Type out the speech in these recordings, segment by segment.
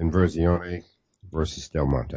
INVERSIONES v. Del Monte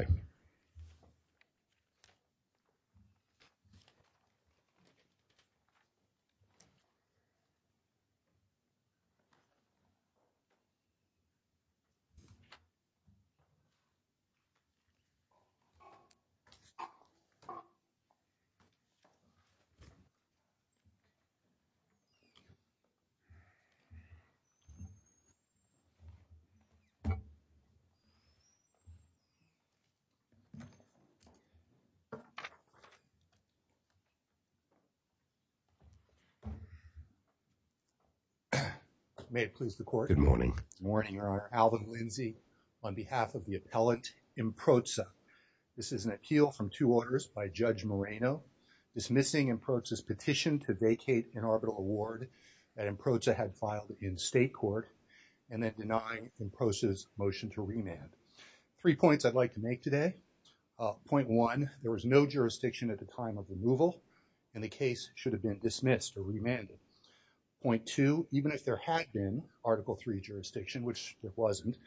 May it please the Court. Good morning. Good morning, Your Honor. Alvin Lindsay on behalf of the appellant IMPROSTA. This is an appeal from two orders by Judge Moreno dismissing IMPROSTA's petition to vacate an arbitral award that IMPROSTA had filed in state court and then denying IMPROSTA's motion to remand. Three points I'd like to make today. Point one, there was no jurisdiction at the time of removal and the case should have been dismissed or remanded. Point two, even if there had been Article III jurisdiction, which it wasn't,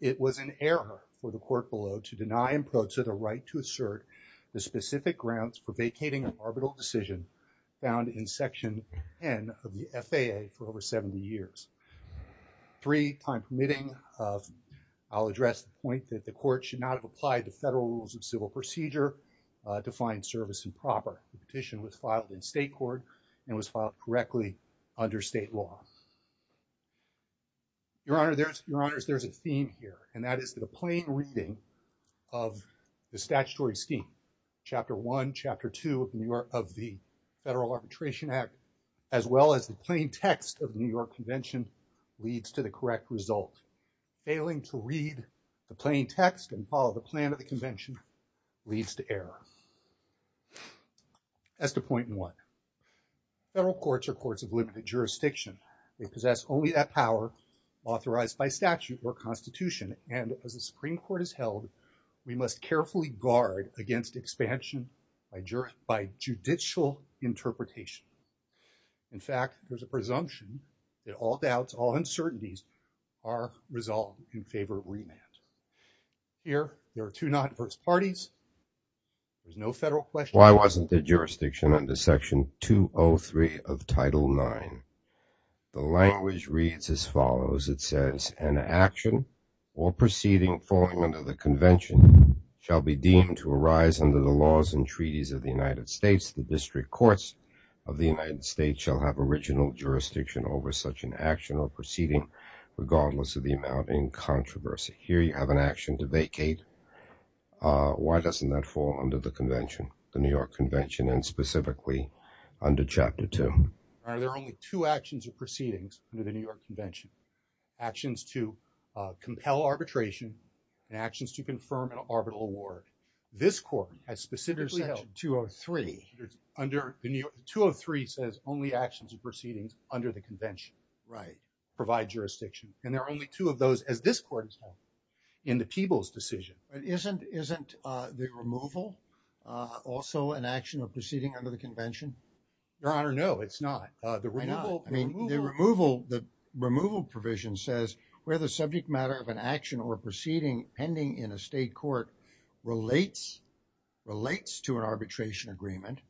it was an error for the court below to deny IMPROSTA the right to assert the specific grounds for vacating an arbitral decision found in Section N of the FAA for over 70 years. Three, time permitting, I'll address the point that the court should not have applied the federal rules of civil procedure to find service improper. The petition was filed in state court and was filed correctly under state law. Your Honor, there's a theme here and that is that a plain reading of the Federal Arbitration Act as well as the plain text of the New York Convention leads to the correct result. Failing to read the plain text and follow the plan of the convention leads to error. As to point one, federal courts are courts of limited jurisdiction. They possess only that power authorized by statute or Constitution and as the Supreme Court has held, we must carefully guard against expansion by judicial interpretation. In fact, there's a presumption that all doubts, all uncertainties are resolved in favor of remand. Here, there are two non-adverse parties. There's no federal question. Why wasn't the jurisdiction under Section 203 of Title IX? The language reads as follows. It says, an action or proceeding following under the convention shall be deemed to arise under the laws and treaties of the United States. The district courts of the United States shall have original jurisdiction over such an action or proceeding regardless of the amount in controversy. Here, you have an action to vacate. Why doesn't that fall under the convention, the New York Convention and specifically under Chapter 2? Are there only two actions or proceedings under the New York Convention? Actions to compel arbitration and actions to confirm an arbitral award. This court has specifically held Section 203. Section 203 says only actions and proceedings under the convention provide jurisdiction and there are only two of those, as this court has held, in the people's decision. Isn't the removal also an action or proceeding under the convention? Your Honor, no, it's not. I mean, the removal provision says where the subject matter of an action or proceeding pending in a state court relates to an arbitration agreement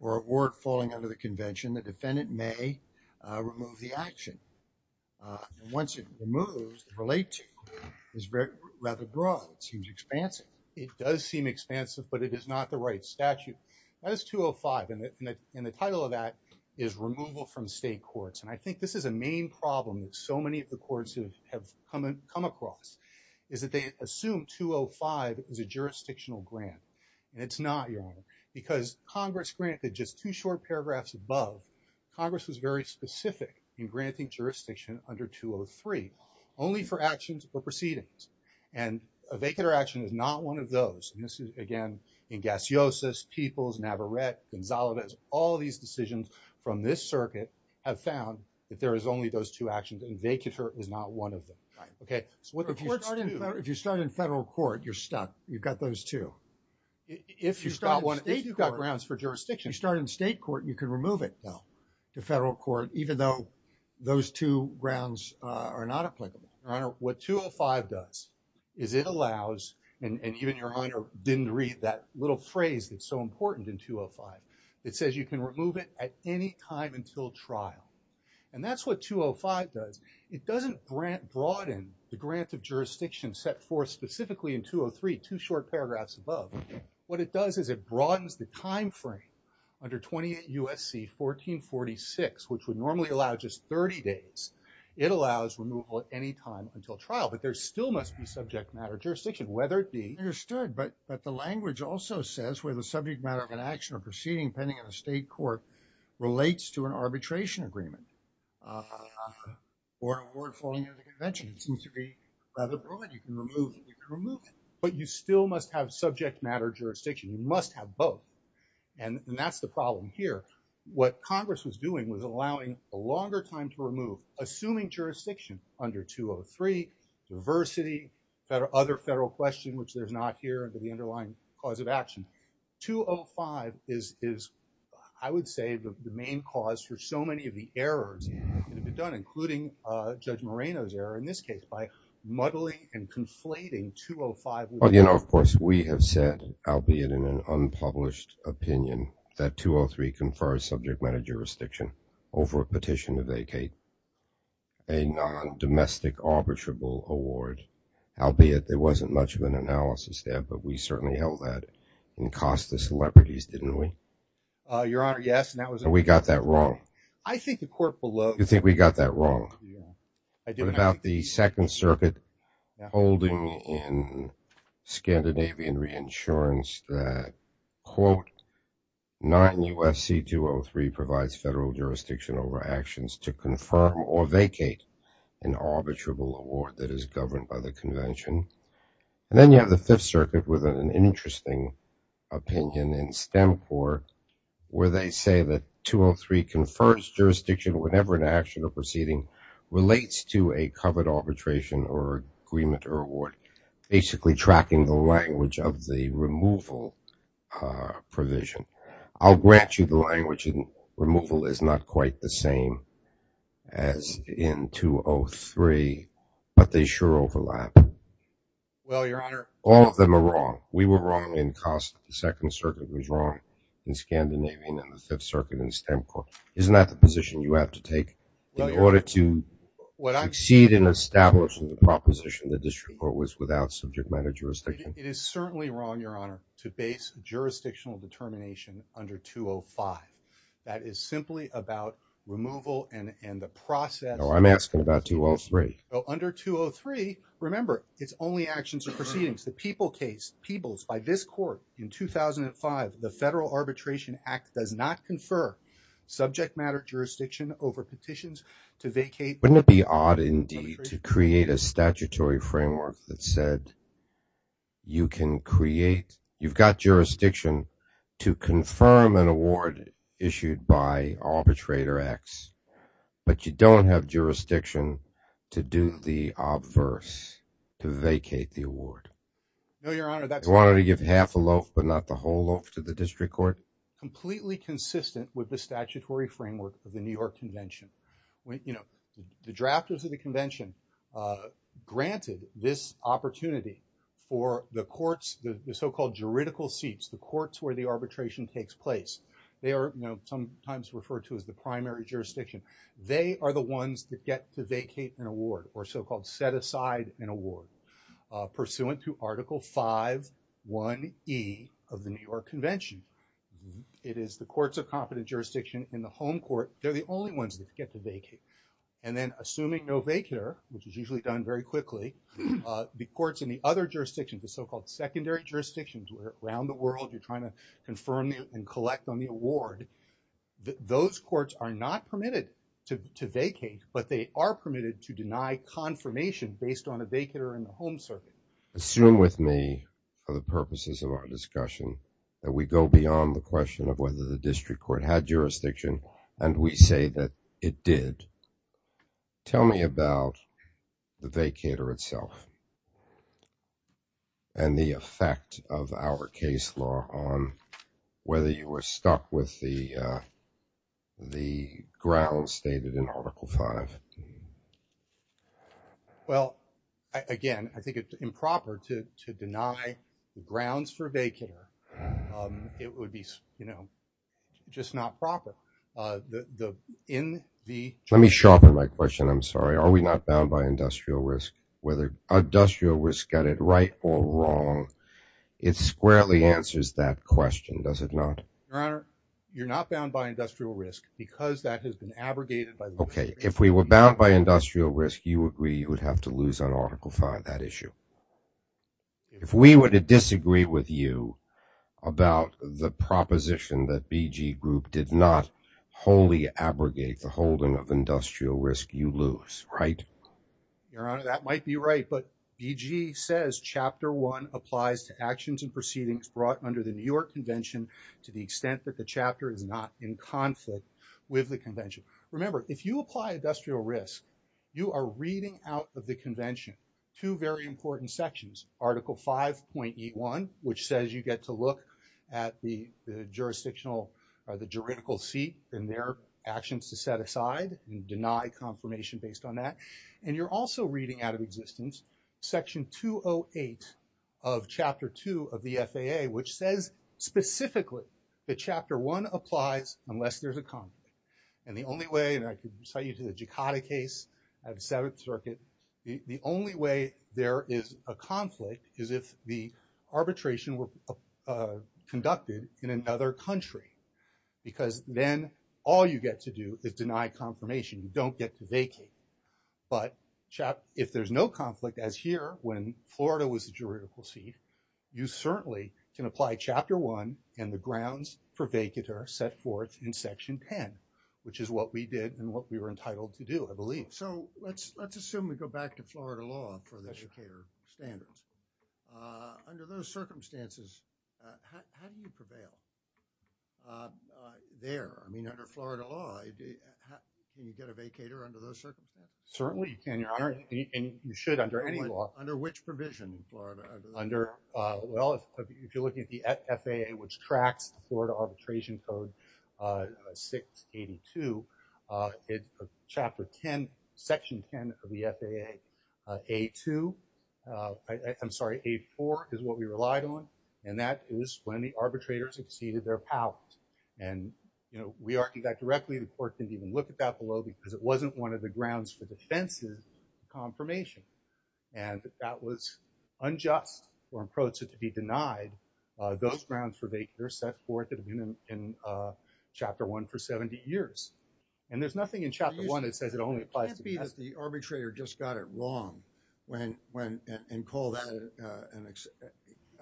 or award falling under the convention, the defendant may remove the action. Once it removes, the relate to is rather broad. It seems expansive. It does seem expansive, but it is not the right statute. That is 205 and the title of that is removal from state courts and I think this is a main problem that so many of the courts have come across, is that they assume 205 is a jurisdictional grant and it's not, Your Honor, because Congress granted just two short paragraphs above. Congress was very specific in granting jurisdiction under 203 only for actions or proceedings and a vacant or action is not one of those. This is, again, in Gaciosus, Peoples, Navarrete, Gonzalez, all these decisions from this circuit have found that there is only those two actions and vacater is not one of them. If you start in federal court, you're stuck. You've got those two. If you start in state court, you can remove it, though, to federal court, even though those two grounds are not applicable. Your Honor, what 205 does is it allows, and even Your Honor didn't read that little phrase that's so important in 205. It says you can remove it at any time until trial and that's what 205 does. It doesn't broaden the grant of jurisdiction set forth specifically in 203, two short paragraphs above. What it does is it broadens the time frame under 28 U.S.C. 1446, which would normally allow just 30 days. It allows removal at any time until trial, but there still must be subject matter jurisdiction, whether it be understood, but the language also says where the subject matter of an action or proceeding pending in a state court relates to an arbitration agreement or an award following the convention. It seems to be rather broad. You can remove it, but you still must have subject matter jurisdiction. You must have both, and that's the problem here. What Congress was doing was allowing a longer time to remove, assuming jurisdiction under 203, diversity, other federal questions, which there's not here under the underlying cause of action. 205 is, I would say, the main cause for so many of the errors that have been done, including Judge Moreno's error in this case by muddling and albeit in an unpublished opinion that 203 confers subject matter jurisdiction over a petition to vacate a non-domestic arbitrable award, albeit there wasn't much of an analysis there, but we certainly held that and cost the celebrities, didn't we? Your Honor, yes, and that was... We got that wrong. I think the court below... You think we got that wrong. I think about the Second Circuit holding in Scandinavian reinsurance that, quote, 9 U.S.C. 203 provides federal jurisdiction over actions to confirm or vacate an arbitrable award that is governed by the convention, and then you have the Fifth Circuit with an interesting opinion in STEMCOR where they say that 203 confers jurisdiction whenever an action or relates to a covered arbitration or agreement or award, basically tracking the language of the removal provision. I'll grant you the language, and removal is not quite the same as in 203, but they sure overlap. Well, Your Honor... All of them are wrong. We were wrong in COSTA. The Second Circuit was wrong in Scandinavian, and the Fifth Circuit in STEMCOR. Isn't that the position you have to take in order to succeed in establishing the proposition the district court was without subject matter jurisdiction? It is certainly wrong, Your Honor, to base jurisdictional determination under 205. That is simply about removal and the process... No, I'm asking about 203. Well, under 203, remember, it's only actions or proceedings. The Peebles case, Peebles, by this court in 2005, the Federal Arbitration Act does not petitions to vacate... Wouldn't it be odd indeed to create a statutory framework that said you can create... You've got jurisdiction to confirm an award issued by arbitrator X, but you don't have jurisdiction to do the obverse, to vacate the award. No, Your Honor, that's... Wanted to give half a loaf, but not the whole loaf to the district court? Completely consistent with the statutory framework of the New York Convention. The drafters of the convention granted this opportunity for the courts, the so-called juridical seats, the courts where the arbitration takes place. They are sometimes referred to as the primary jurisdiction. They are the ones that get to vacate an award or so-called set aside an award pursuant to Article 5.1e of the New York Convention. It is the courts of competent jurisdiction in the home court. They're the only ones that get to vacate. And then assuming no vacater, which is usually done very quickly, the courts in the other jurisdictions, the so-called secondary jurisdictions, where around the world you're trying to confirm and collect on the award, those courts are not permitted to vacate, but they are permitted to deny confirmation based on a vacater in the home circuit. Assume with me, for the purposes of our discussion, that we go beyond the question of whether the district court had jurisdiction and we say that it did. Tell me about the vacater itself and the effect of our case law on whether you were stuck with the grounds stated in Article 5. Well, again, I think it's improper to deny the grounds for vacater. It would be just not proper. Let me sharpen my question. I'm sorry. Are we not bound by industrial risk? Whether industrial risk got it right or wrong, it squarely answers that question, does it not? Your Honor, you're not bound by industrial risk because that has been abrogated by... Okay. If we were bound by industrial risk, you agree you would have to lose on Article 5, that issue. If we were to disagree with you about the proposition that BG Group did not wholly abrogate the holding of industrial risk, you lose, right? Your Honor, that might be right, but BG says Chapter 1 applies to actions and proceedings brought under the New Convention to the extent that the chapter is not in conflict with the Convention. Remember, if you apply industrial risk, you are reading out of the Convention two very important sections, Article 5.81, which says you get to look at the jurisdictional or the juridical seat and their actions to set aside and deny confirmation based on that. And you're also reading out of existence Section 208 of Chapter 2 of the FAA, which says specifically that Chapter 1 applies unless there's a conflict. And the only way, and I could cite you to the Jakata case at the Seventh Circuit, the only way there is a conflict is if the arbitration were conducted in another country, because then all you get to do is deny confirmation. You don't get to vacate. But if there's no conflict, as here when Florida was the juridical seat, you certainly can apply Chapter 1 and the grounds for vacater set forth in Section 10, which is what we did and what we were entitled to do, I believe. So let's assume we go back to Florida law for the vacater standards. Under those circumstances, how do you prevail there? I mean, under Florida law, can you get a vacater under those circumstances? Certainly you can, Your Honor, and you should under any law. Under which provision in Florida? Under, well, if you're looking at the FAA, which tracks the Florida Arbitration Code 682, Chapter 10, Section 10 of the FAA, A2, I'm sorry, A4 is what we relied on, and that is when the arbitrators exceeded their powers. And, you know, we argued that directly, the court didn't even look at that below, because it wasn't one of the grounds for defensive confirmation. And that was unjust for an approach that could be denied. Those grounds for vacater set forth in Chapter 1 for 70 years. And there's nothing in Chapter 1 that says it only applies to vacater. It can't be that the arbitrator just got it wrong and called that an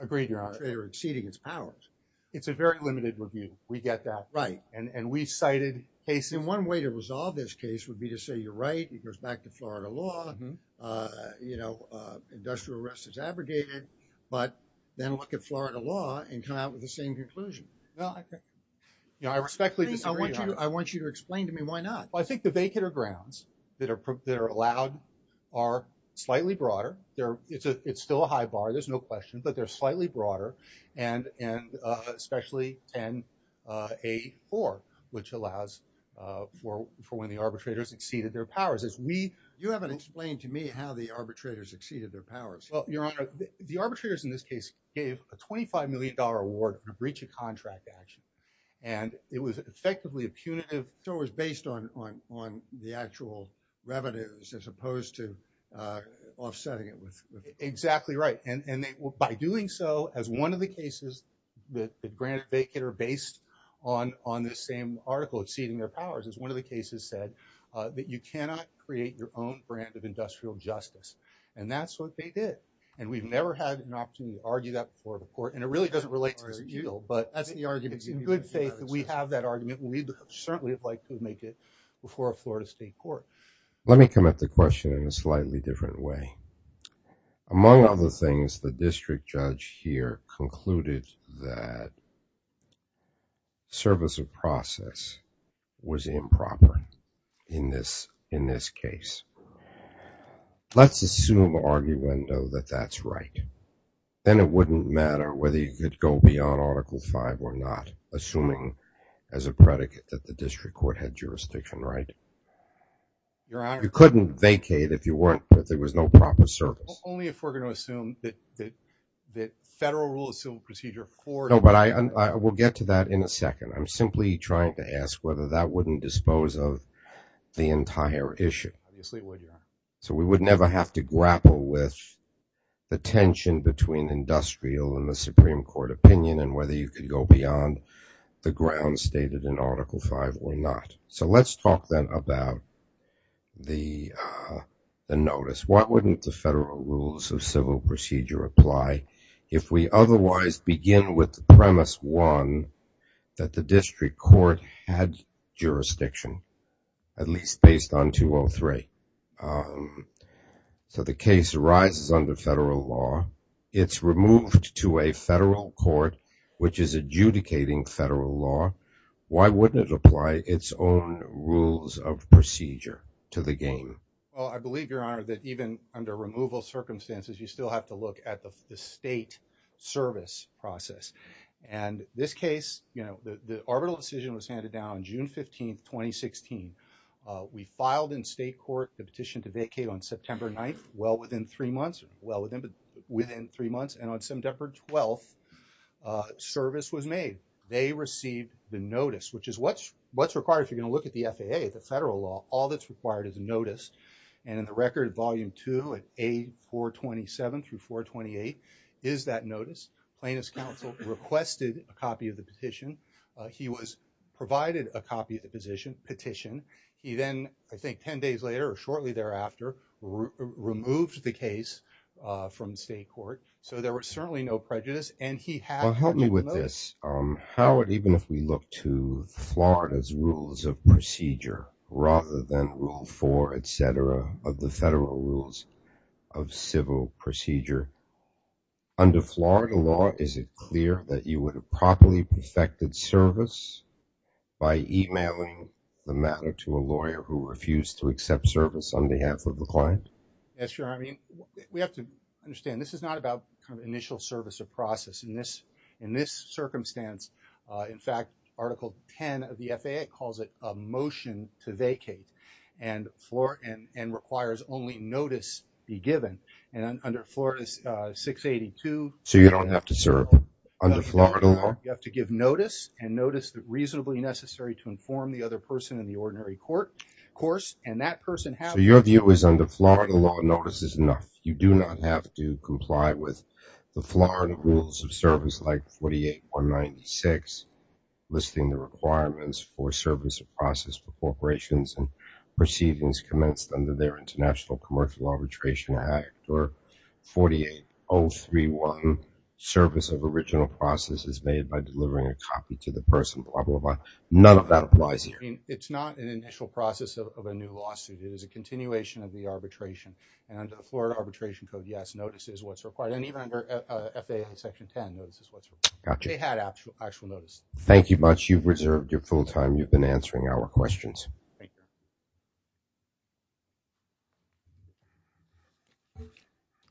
agreement. They're exceeding its powers. It's a very limited review. We get that right. And we cited cases. And one way to resolve this case would be to say, you're right, it goes back to Florida law. You know, industrial arrest is abrogated. But then look at Florida law and come out with the same conclusion. I respectfully disagree, Your Honor. I want you to explain to me why not. I think the vacater grounds that are allowed are slightly broader. It's still a high bar. There's no question. But they're slightly broader. And especially 10A4, which allows for when the arbitrators exceeded their powers. You haven't explained to me how the arbitrators exceeded their powers. Well, Your Honor, the arbitrators in this case gave a $25 million award for breach of contract action. And it was effectively a punitive. So it was based on the actual revenues as opposed to offsetting it. Exactly right. And by doing so, as one of the cases that granted vacater based on this same article, exceeding their powers, is one of the cases said that you cannot create your own brand of industrial justice. And that's what they did. And we've never had an opportunity to argue that before the court. And it really doesn't relate to this appeal. But that's the argument. It's in good faith that we have that argument. We certainly would like to make it before a Florida state court. Let me come at the question in a slightly different way. Among other things, the district judge here concluded that service of process was improper in this case. Let's assume arguendo that that's right. Then it wouldn't matter whether you could go beyond Article 5 or not, assuming as a predicate that the district court had jurisdiction, right? Your Honor. You couldn't vacate if you weren't, if there was no proper service. Only if we're going to assume that the federal rule of civil procedure of court. No, but I will get to that in a second. I'm simply trying to ask whether that wouldn't dispose of the entire issue. Obviously it would, Your Honor. So we would never have to grapple with the tension between industrial and the Supreme Court opinion and whether you could go beyond the ground stated in Article 5 or not. So let's talk then about the notice. Why wouldn't the federal rules of civil procedure apply if we otherwise begin with the premise, one, that the district court had jurisdiction, at least based on 203? So the case arises under federal law. It's removed to a federal court, which is adjudicating federal law. Why wouldn't it apply its own rules of procedure to the game? Well, I believe, Your Honor, that even under removal circumstances, you still have to look at the state service process. And this case, you know, the arbitral decision was handed down June 15th, 2016. We filed in state court the within three months. And on 7 December 12th, service was made. They received the notice, which is what's required if you're going to look at the FAA, the federal law. All that's required is a notice. And in the record, volume two at A427 through 428 is that notice. Plaintiff's counsel requested a copy of the petition. He was provided a copy of the petition. He then, I think 10 days later or shortly thereafter, removed the case from state court. So there was certainly no prejudice. And he had... Well, help me with this. Howard, even if we look to Florida's rules of procedure, rather than rule four, et cetera, of the federal rules of civil procedure, under Florida law, is it clear that you would have properly perfected service by emailing the matter to a lawyer who refused to accept service on behalf of the client? Yes, Your Honor. I mean, we have to understand this is not about kind of initial service of process. In this circumstance, in fact, article 10 of the FAA calls it a motion to vacate and requires only notice be given. And under Florida's 682... So you don't have to serve under Florida law? You have to give notice and notice that reasonably necessary to inform the other person in the ordinary court course. And that person has... So your view is under Florida law, notice is enough. You do not have to comply with the Florida rules of service like 48196, listing the requirements for service of process for corporations and proceedings commenced under their International Commercial Arbitration Act or 48031, service of original process is made by delivering a copy to the person, blah, blah, blah. None of that applies here. I mean, it's not an initial process of a new lawsuit. It is a continuation of the arbitration. And under the Florida Arbitration Code, yes, notice is what's required. And even under FAA Section 10, notice is what's required. Gotcha. They had actual notice. Thank you much. You've reserved your full time. You've been answering our questions.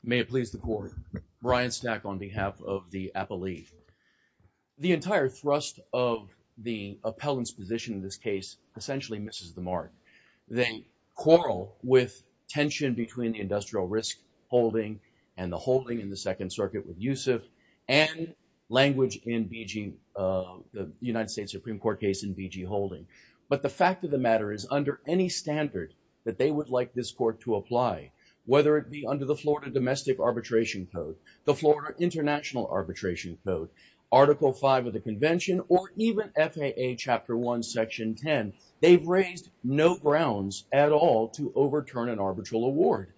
May it please the court. Brian Stack on behalf of the Appellee. The entire thrust of the appellant's position in this case essentially misses the mark. They quarrel with tension between the industrial risk holding and the holding in the Second Circuit with Yusuf and language in BG, the United States Supreme Court case in BG holding. But the fact of the matter is under any standard that they would like this court to apply, whether it be under the Florida Domestic Arbitration Code, the Florida International Arbitration Code, Article 5 of the Convention, or even FAA Chapter 1, Section 10, they've raised no grounds at all to overturn an arbitral award.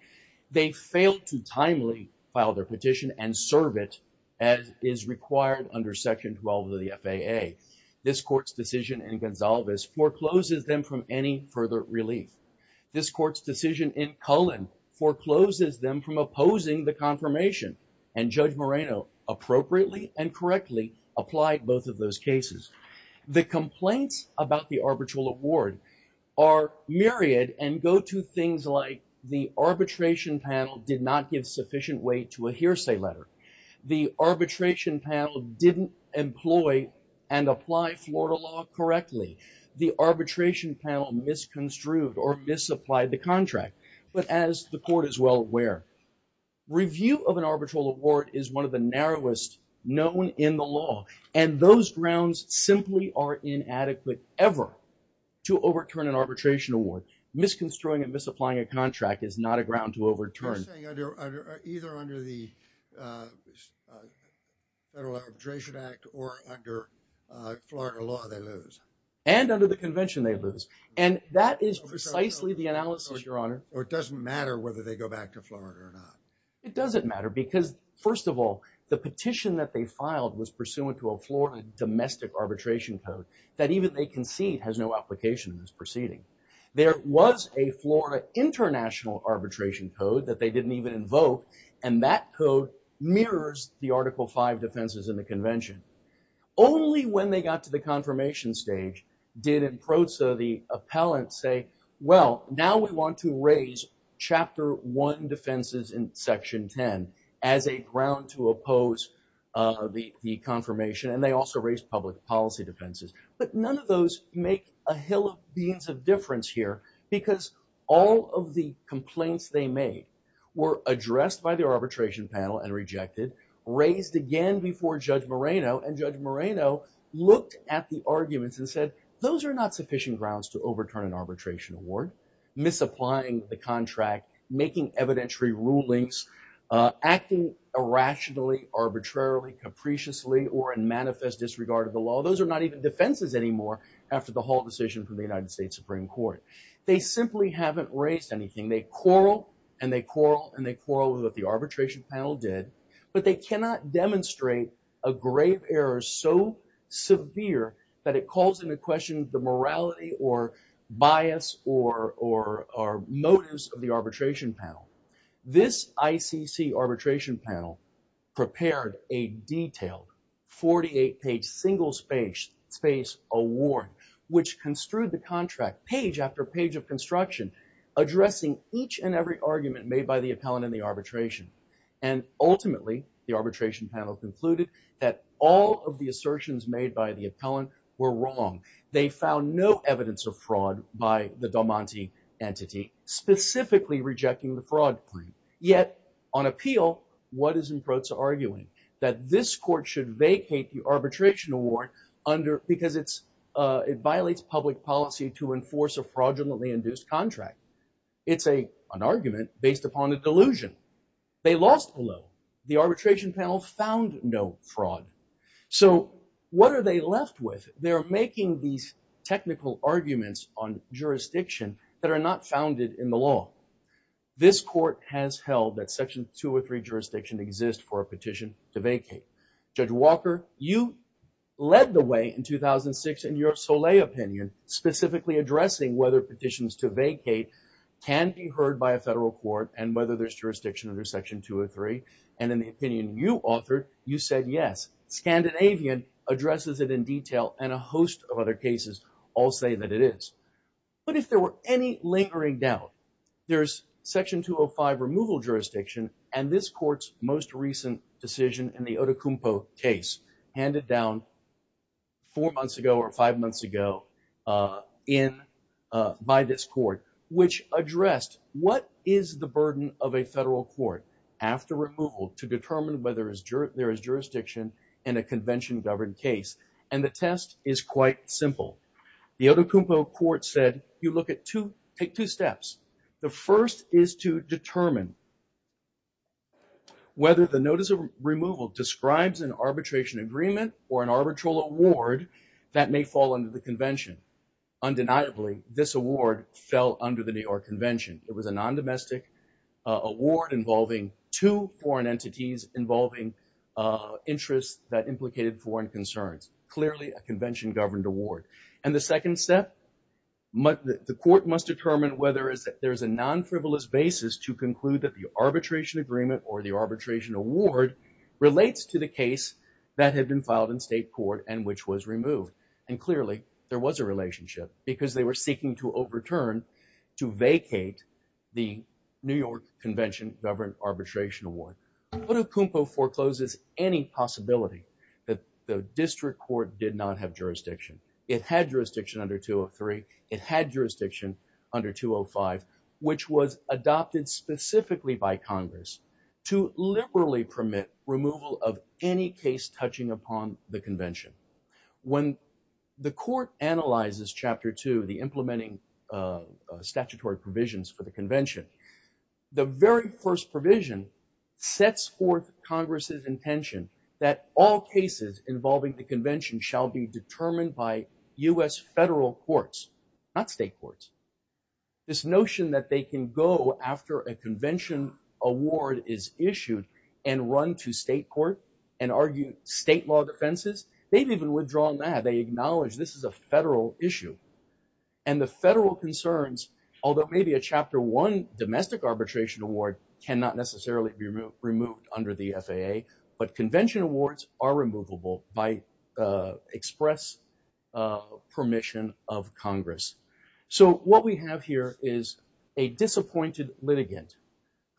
They failed to timely file their petition and serve it as is required under Section 12 of the FAA. This court's decision in Gonsalves forecloses them from any further relief. This court's decision in Cullen forecloses them from opposing the confirmation. And Judge Moreno appropriately and correctly applied both of those cases. The complaints about the arbitral award are myriad and go to things like the arbitration panel did not give sufficient weight to a hearsay letter. The arbitration panel didn't employ and apply Florida law correctly. The arbitration panel misconstrued or misapplied the contract. But as the court is well aware, review of an arbitral award is one of the narrowest known in the law. And those grounds simply are inadequate ever to overturn an arbitration award. Misconstruing and misapplying a contract is not a ground to this Federal Arbitration Act or under Florida law, they lose. And under the convention, they lose. And that is precisely the analysis, Your Honor. Or it doesn't matter whether they go back to Florida or not. It doesn't matter because, first of all, the petition that they filed was pursuant to a Florida domestic arbitration code that even they concede has no application in this proceeding. There was a Florida international arbitration code that they article five defenses in the convention. Only when they got to the confirmation stage did the appellant say, well, now we want to raise chapter one defenses in section 10 as a ground to oppose the confirmation. And they also raised public policy defenses. But none of those make a hill of beans of difference here because all of the complaints they made were addressed by arbitration panel and rejected, raised again before Judge Moreno. And Judge Moreno looked at the arguments and said those are not sufficient grounds to overturn an arbitration award. Misapplying the contract, making evidentiary rulings, acting irrationally, arbitrarily, capriciously, or in manifest disregard of the law. Those are not even defenses anymore after the whole decision from the United States Supreme Court. They simply haven't raised anything. They quarrel and they quarrel and they quarrel with what the arbitration panel did. But they cannot demonstrate a grave error so severe that it calls into question the morality or bias or motives of the arbitration panel. This ICC arbitration panel prepared a detailed 48-page single-spaced award which construed the contract page after page of construction addressing each and every argument made by the appellant in the arbitration. And ultimately, the arbitration panel concluded that all of the assertions made by the appellant were wrong. They found no evidence of fraud by the Del Monte entity, specifically rejecting the fraud claim. Yet on appeal, what is Improza arguing? That this court should vacate the arbitration award because it violates public policy to enforce a fraudulently induced contract. It's an argument based upon a delusion. They lost below. The arbitration panel found no fraud. So what are they left with? They're making these technical arguments on jurisdiction that are not founded in the law. This court has held that section 203 jurisdiction exists for a petition to vacate. Judge Walker, you led the way in 2006 in your Soleil opinion, specifically addressing whether petitions to vacate can be heard by a federal court and whether there's jurisdiction under section 203. And in the opinion you authored, you said yes. Scandinavian addresses it in detail and a host of other cases all say that it is. But if there were any lingering doubt, there's section 205 removal jurisdiction, and this court's most recent decision in the Odukumpo case handed down four months ago or five months ago by this court, which addressed what is the burden of a federal court after removal to determine whether there is jurisdiction in a convention governed case. And the test is quite simple. The Odukumpo court said you look at two, take two steps. The first is to determine whether the notice of removal describes an arbitration agreement or an arbitral award that may fall under the convention. Undeniably, this award fell under the New York convention. It was a non-domestic award involving two foreign entities involving interests that award. And the second step, the court must determine whether there's a non-frivolous basis to conclude that the arbitration agreement or the arbitration award relates to the case that had been filed in state court and which was removed. And clearly, there was a relationship because they were seeking to overturn to vacate the New York convention government arbitration award. Odukumpo forecloses any possibility that the district court did not have jurisdiction. It had jurisdiction under 203. It had jurisdiction under 205, which was adopted specifically by Congress to liberally permit removal of any case touching upon the convention. When the court analyzes chapter two, the implementing statutory provisions for the convention, the very first provision sets forth Congress's intention that all cases involving the convention shall be determined by U.S. federal courts, not state courts. This notion that they can go after a convention award is issued and run to state court and argue state law defenses, they've even withdrawn that. They acknowledge this is a federal issue. And the federal concerns, although maybe a chapter one arbitration award cannot necessarily be removed under the FAA, but convention awards are removable by express permission of Congress. So what we have here is a disappointed litigant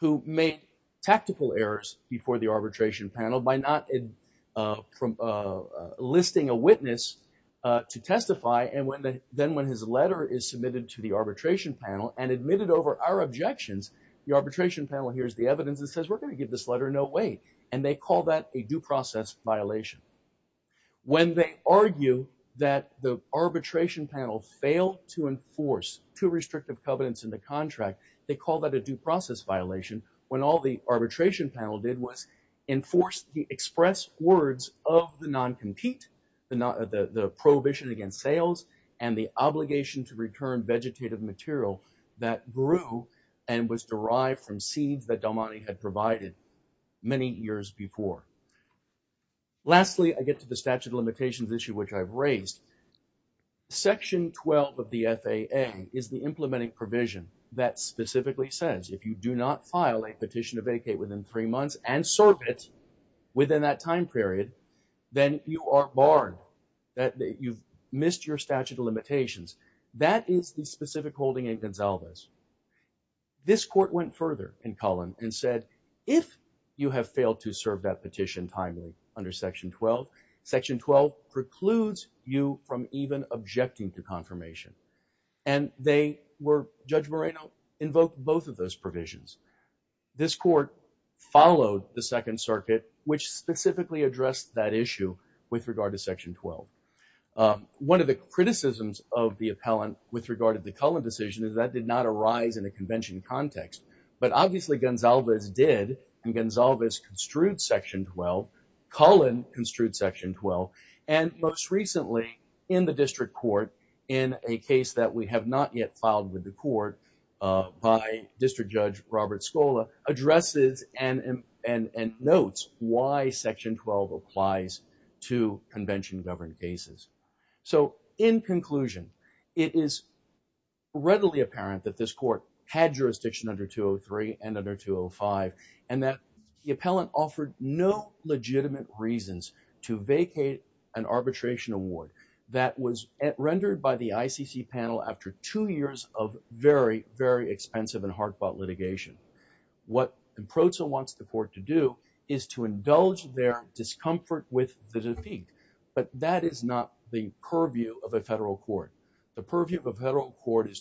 who made tactical errors before the arbitration panel by not listing a witness to testify. And then when his letter is submitted to the arbitration panel and admitted over our objections, the arbitration panel hears the evidence and says, we're going to give this letter no weight. And they call that a due process violation. When they argue that the arbitration panel failed to enforce two restrictive covenants in the contract, they call that a due process violation. When all the arbitration panel did was enforce the express words of the non-compete, the prohibition against sales and the obligation to return vegetative material that grew and was derived from seeds that Domani had provided many years before. Lastly, I get to the statute of limitations issue, which I've raised. Section 12 of the FAA is the implementing provision that specifically says if you do not file a petition to vacate within three months and serve it within that time period, then you are barred, that you've missed your statute of limitations. That is the specific holding in Gonsalves. This court went further in Cullen and said, if you have failed to serve that petition timely under Section 12, Section 12 precludes you from even objecting to confirmation. And they were, Judge Moreno invoked both of those provisions. This court followed the Second Amendment and addressed that issue with regard to Section 12. One of the criticisms of the appellant with regard to the Cullen decision is that did not arise in a convention context, but obviously Gonsalves did, and Gonsalves construed Section 12, Cullen construed Section 12, and most recently in the district court in a case that we have not yet filed with the court by District Judge Robert Scola, addresses and notes why Section 12 applies to convention-governed cases. So in conclusion, it is readily apparent that this court had jurisdiction under 203 and under 205, and that the appellant offered no legitimate reasons to vacate an arbitration award that was What the PROTSA wants the court to do is to indulge their discomfort with the defeat, but that is not the purview of a federal court. The purview of a federal court is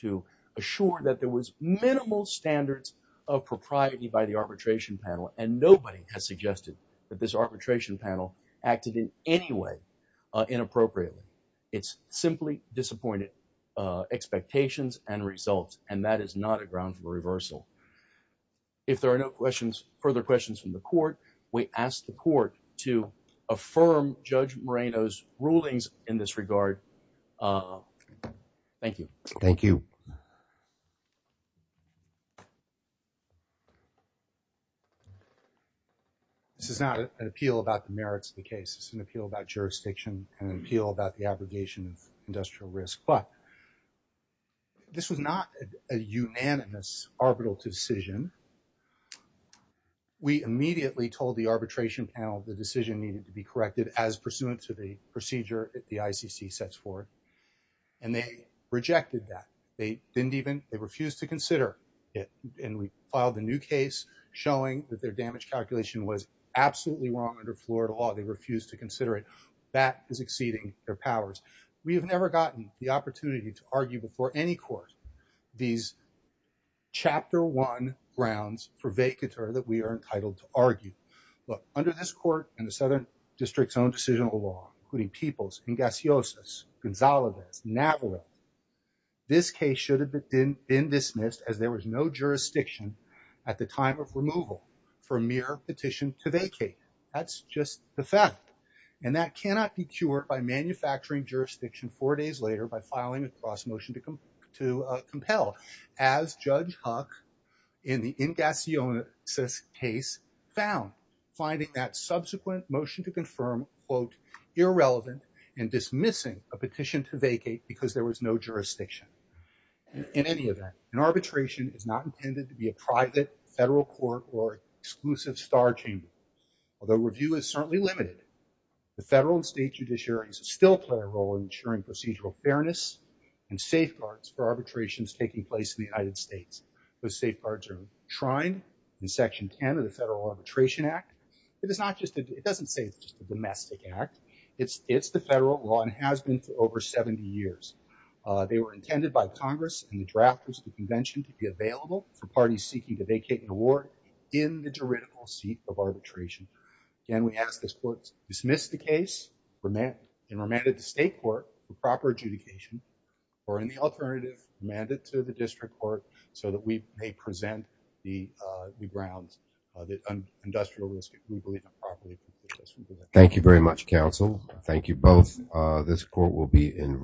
to assure that there was minimal standards of propriety by the arbitration panel, and nobody has suggested that this arbitration panel acted in any way inappropriately. It's simply disappointed expectations and results, and that is not a ground for reversal. If there are no questions, further questions from the court, we ask the court to affirm Judge Moreno's rulings in this regard. Thank you. Thank you. This is not an appeal about the merits of the case. It's an appeal about jurisdiction, an appeal about the abrogation of industrial risk, but this was not a unanimous arbitral decision. We immediately told the arbitration panel the decision needed to be corrected as pursuant to the procedure that the ICC sets forth, and they rejected that. They didn't even, they refused to consider it, and we filed a new case showing that their damage calculation was absolutely wrong under Florida law. They are exceeding their powers. We have never gotten the opportunity to argue before any court these chapter one grounds for vacatur that we are entitled to argue, but under this court and the Southern District's own decision of the law, including Peoples and Gaciosas, Gonzalez, Navarro, this case should have been dismissed as there was no jurisdiction at the time of removal for mere petition to vacate. That's just the fact, and that cannot be cured by manufacturing jurisdiction four days later by filing a cross-motion to compel, as Judge Huck in the in Gaciosas case found, finding that subsequent motion to confirm, quote, irrelevant and dismissing a petition to vacate because there was no jurisdiction. In any event, an arbitration is not intended to be a private federal court or exclusive star chamber. Although review is certainly limited, the federal and state judiciaries still play a role in ensuring procedural fairness and safeguards for arbitrations taking place in the United States. Those safeguards are enshrined in section 10 of the Federal Arbitration Act. It is not just, it doesn't say it's just a domestic act. It's the federal law and has been for over 70 years. They were intended by Congress and the convention to be available for parties seeking to vacate an award in the juridical seat of arbitration. And we ask this court to dismiss the case and remand it to state court for proper adjudication, or in the alternative, remand it to the district court so that we may present the grounds, the industrial risk. Thank you very much, counsel. Thank you both. This court will be in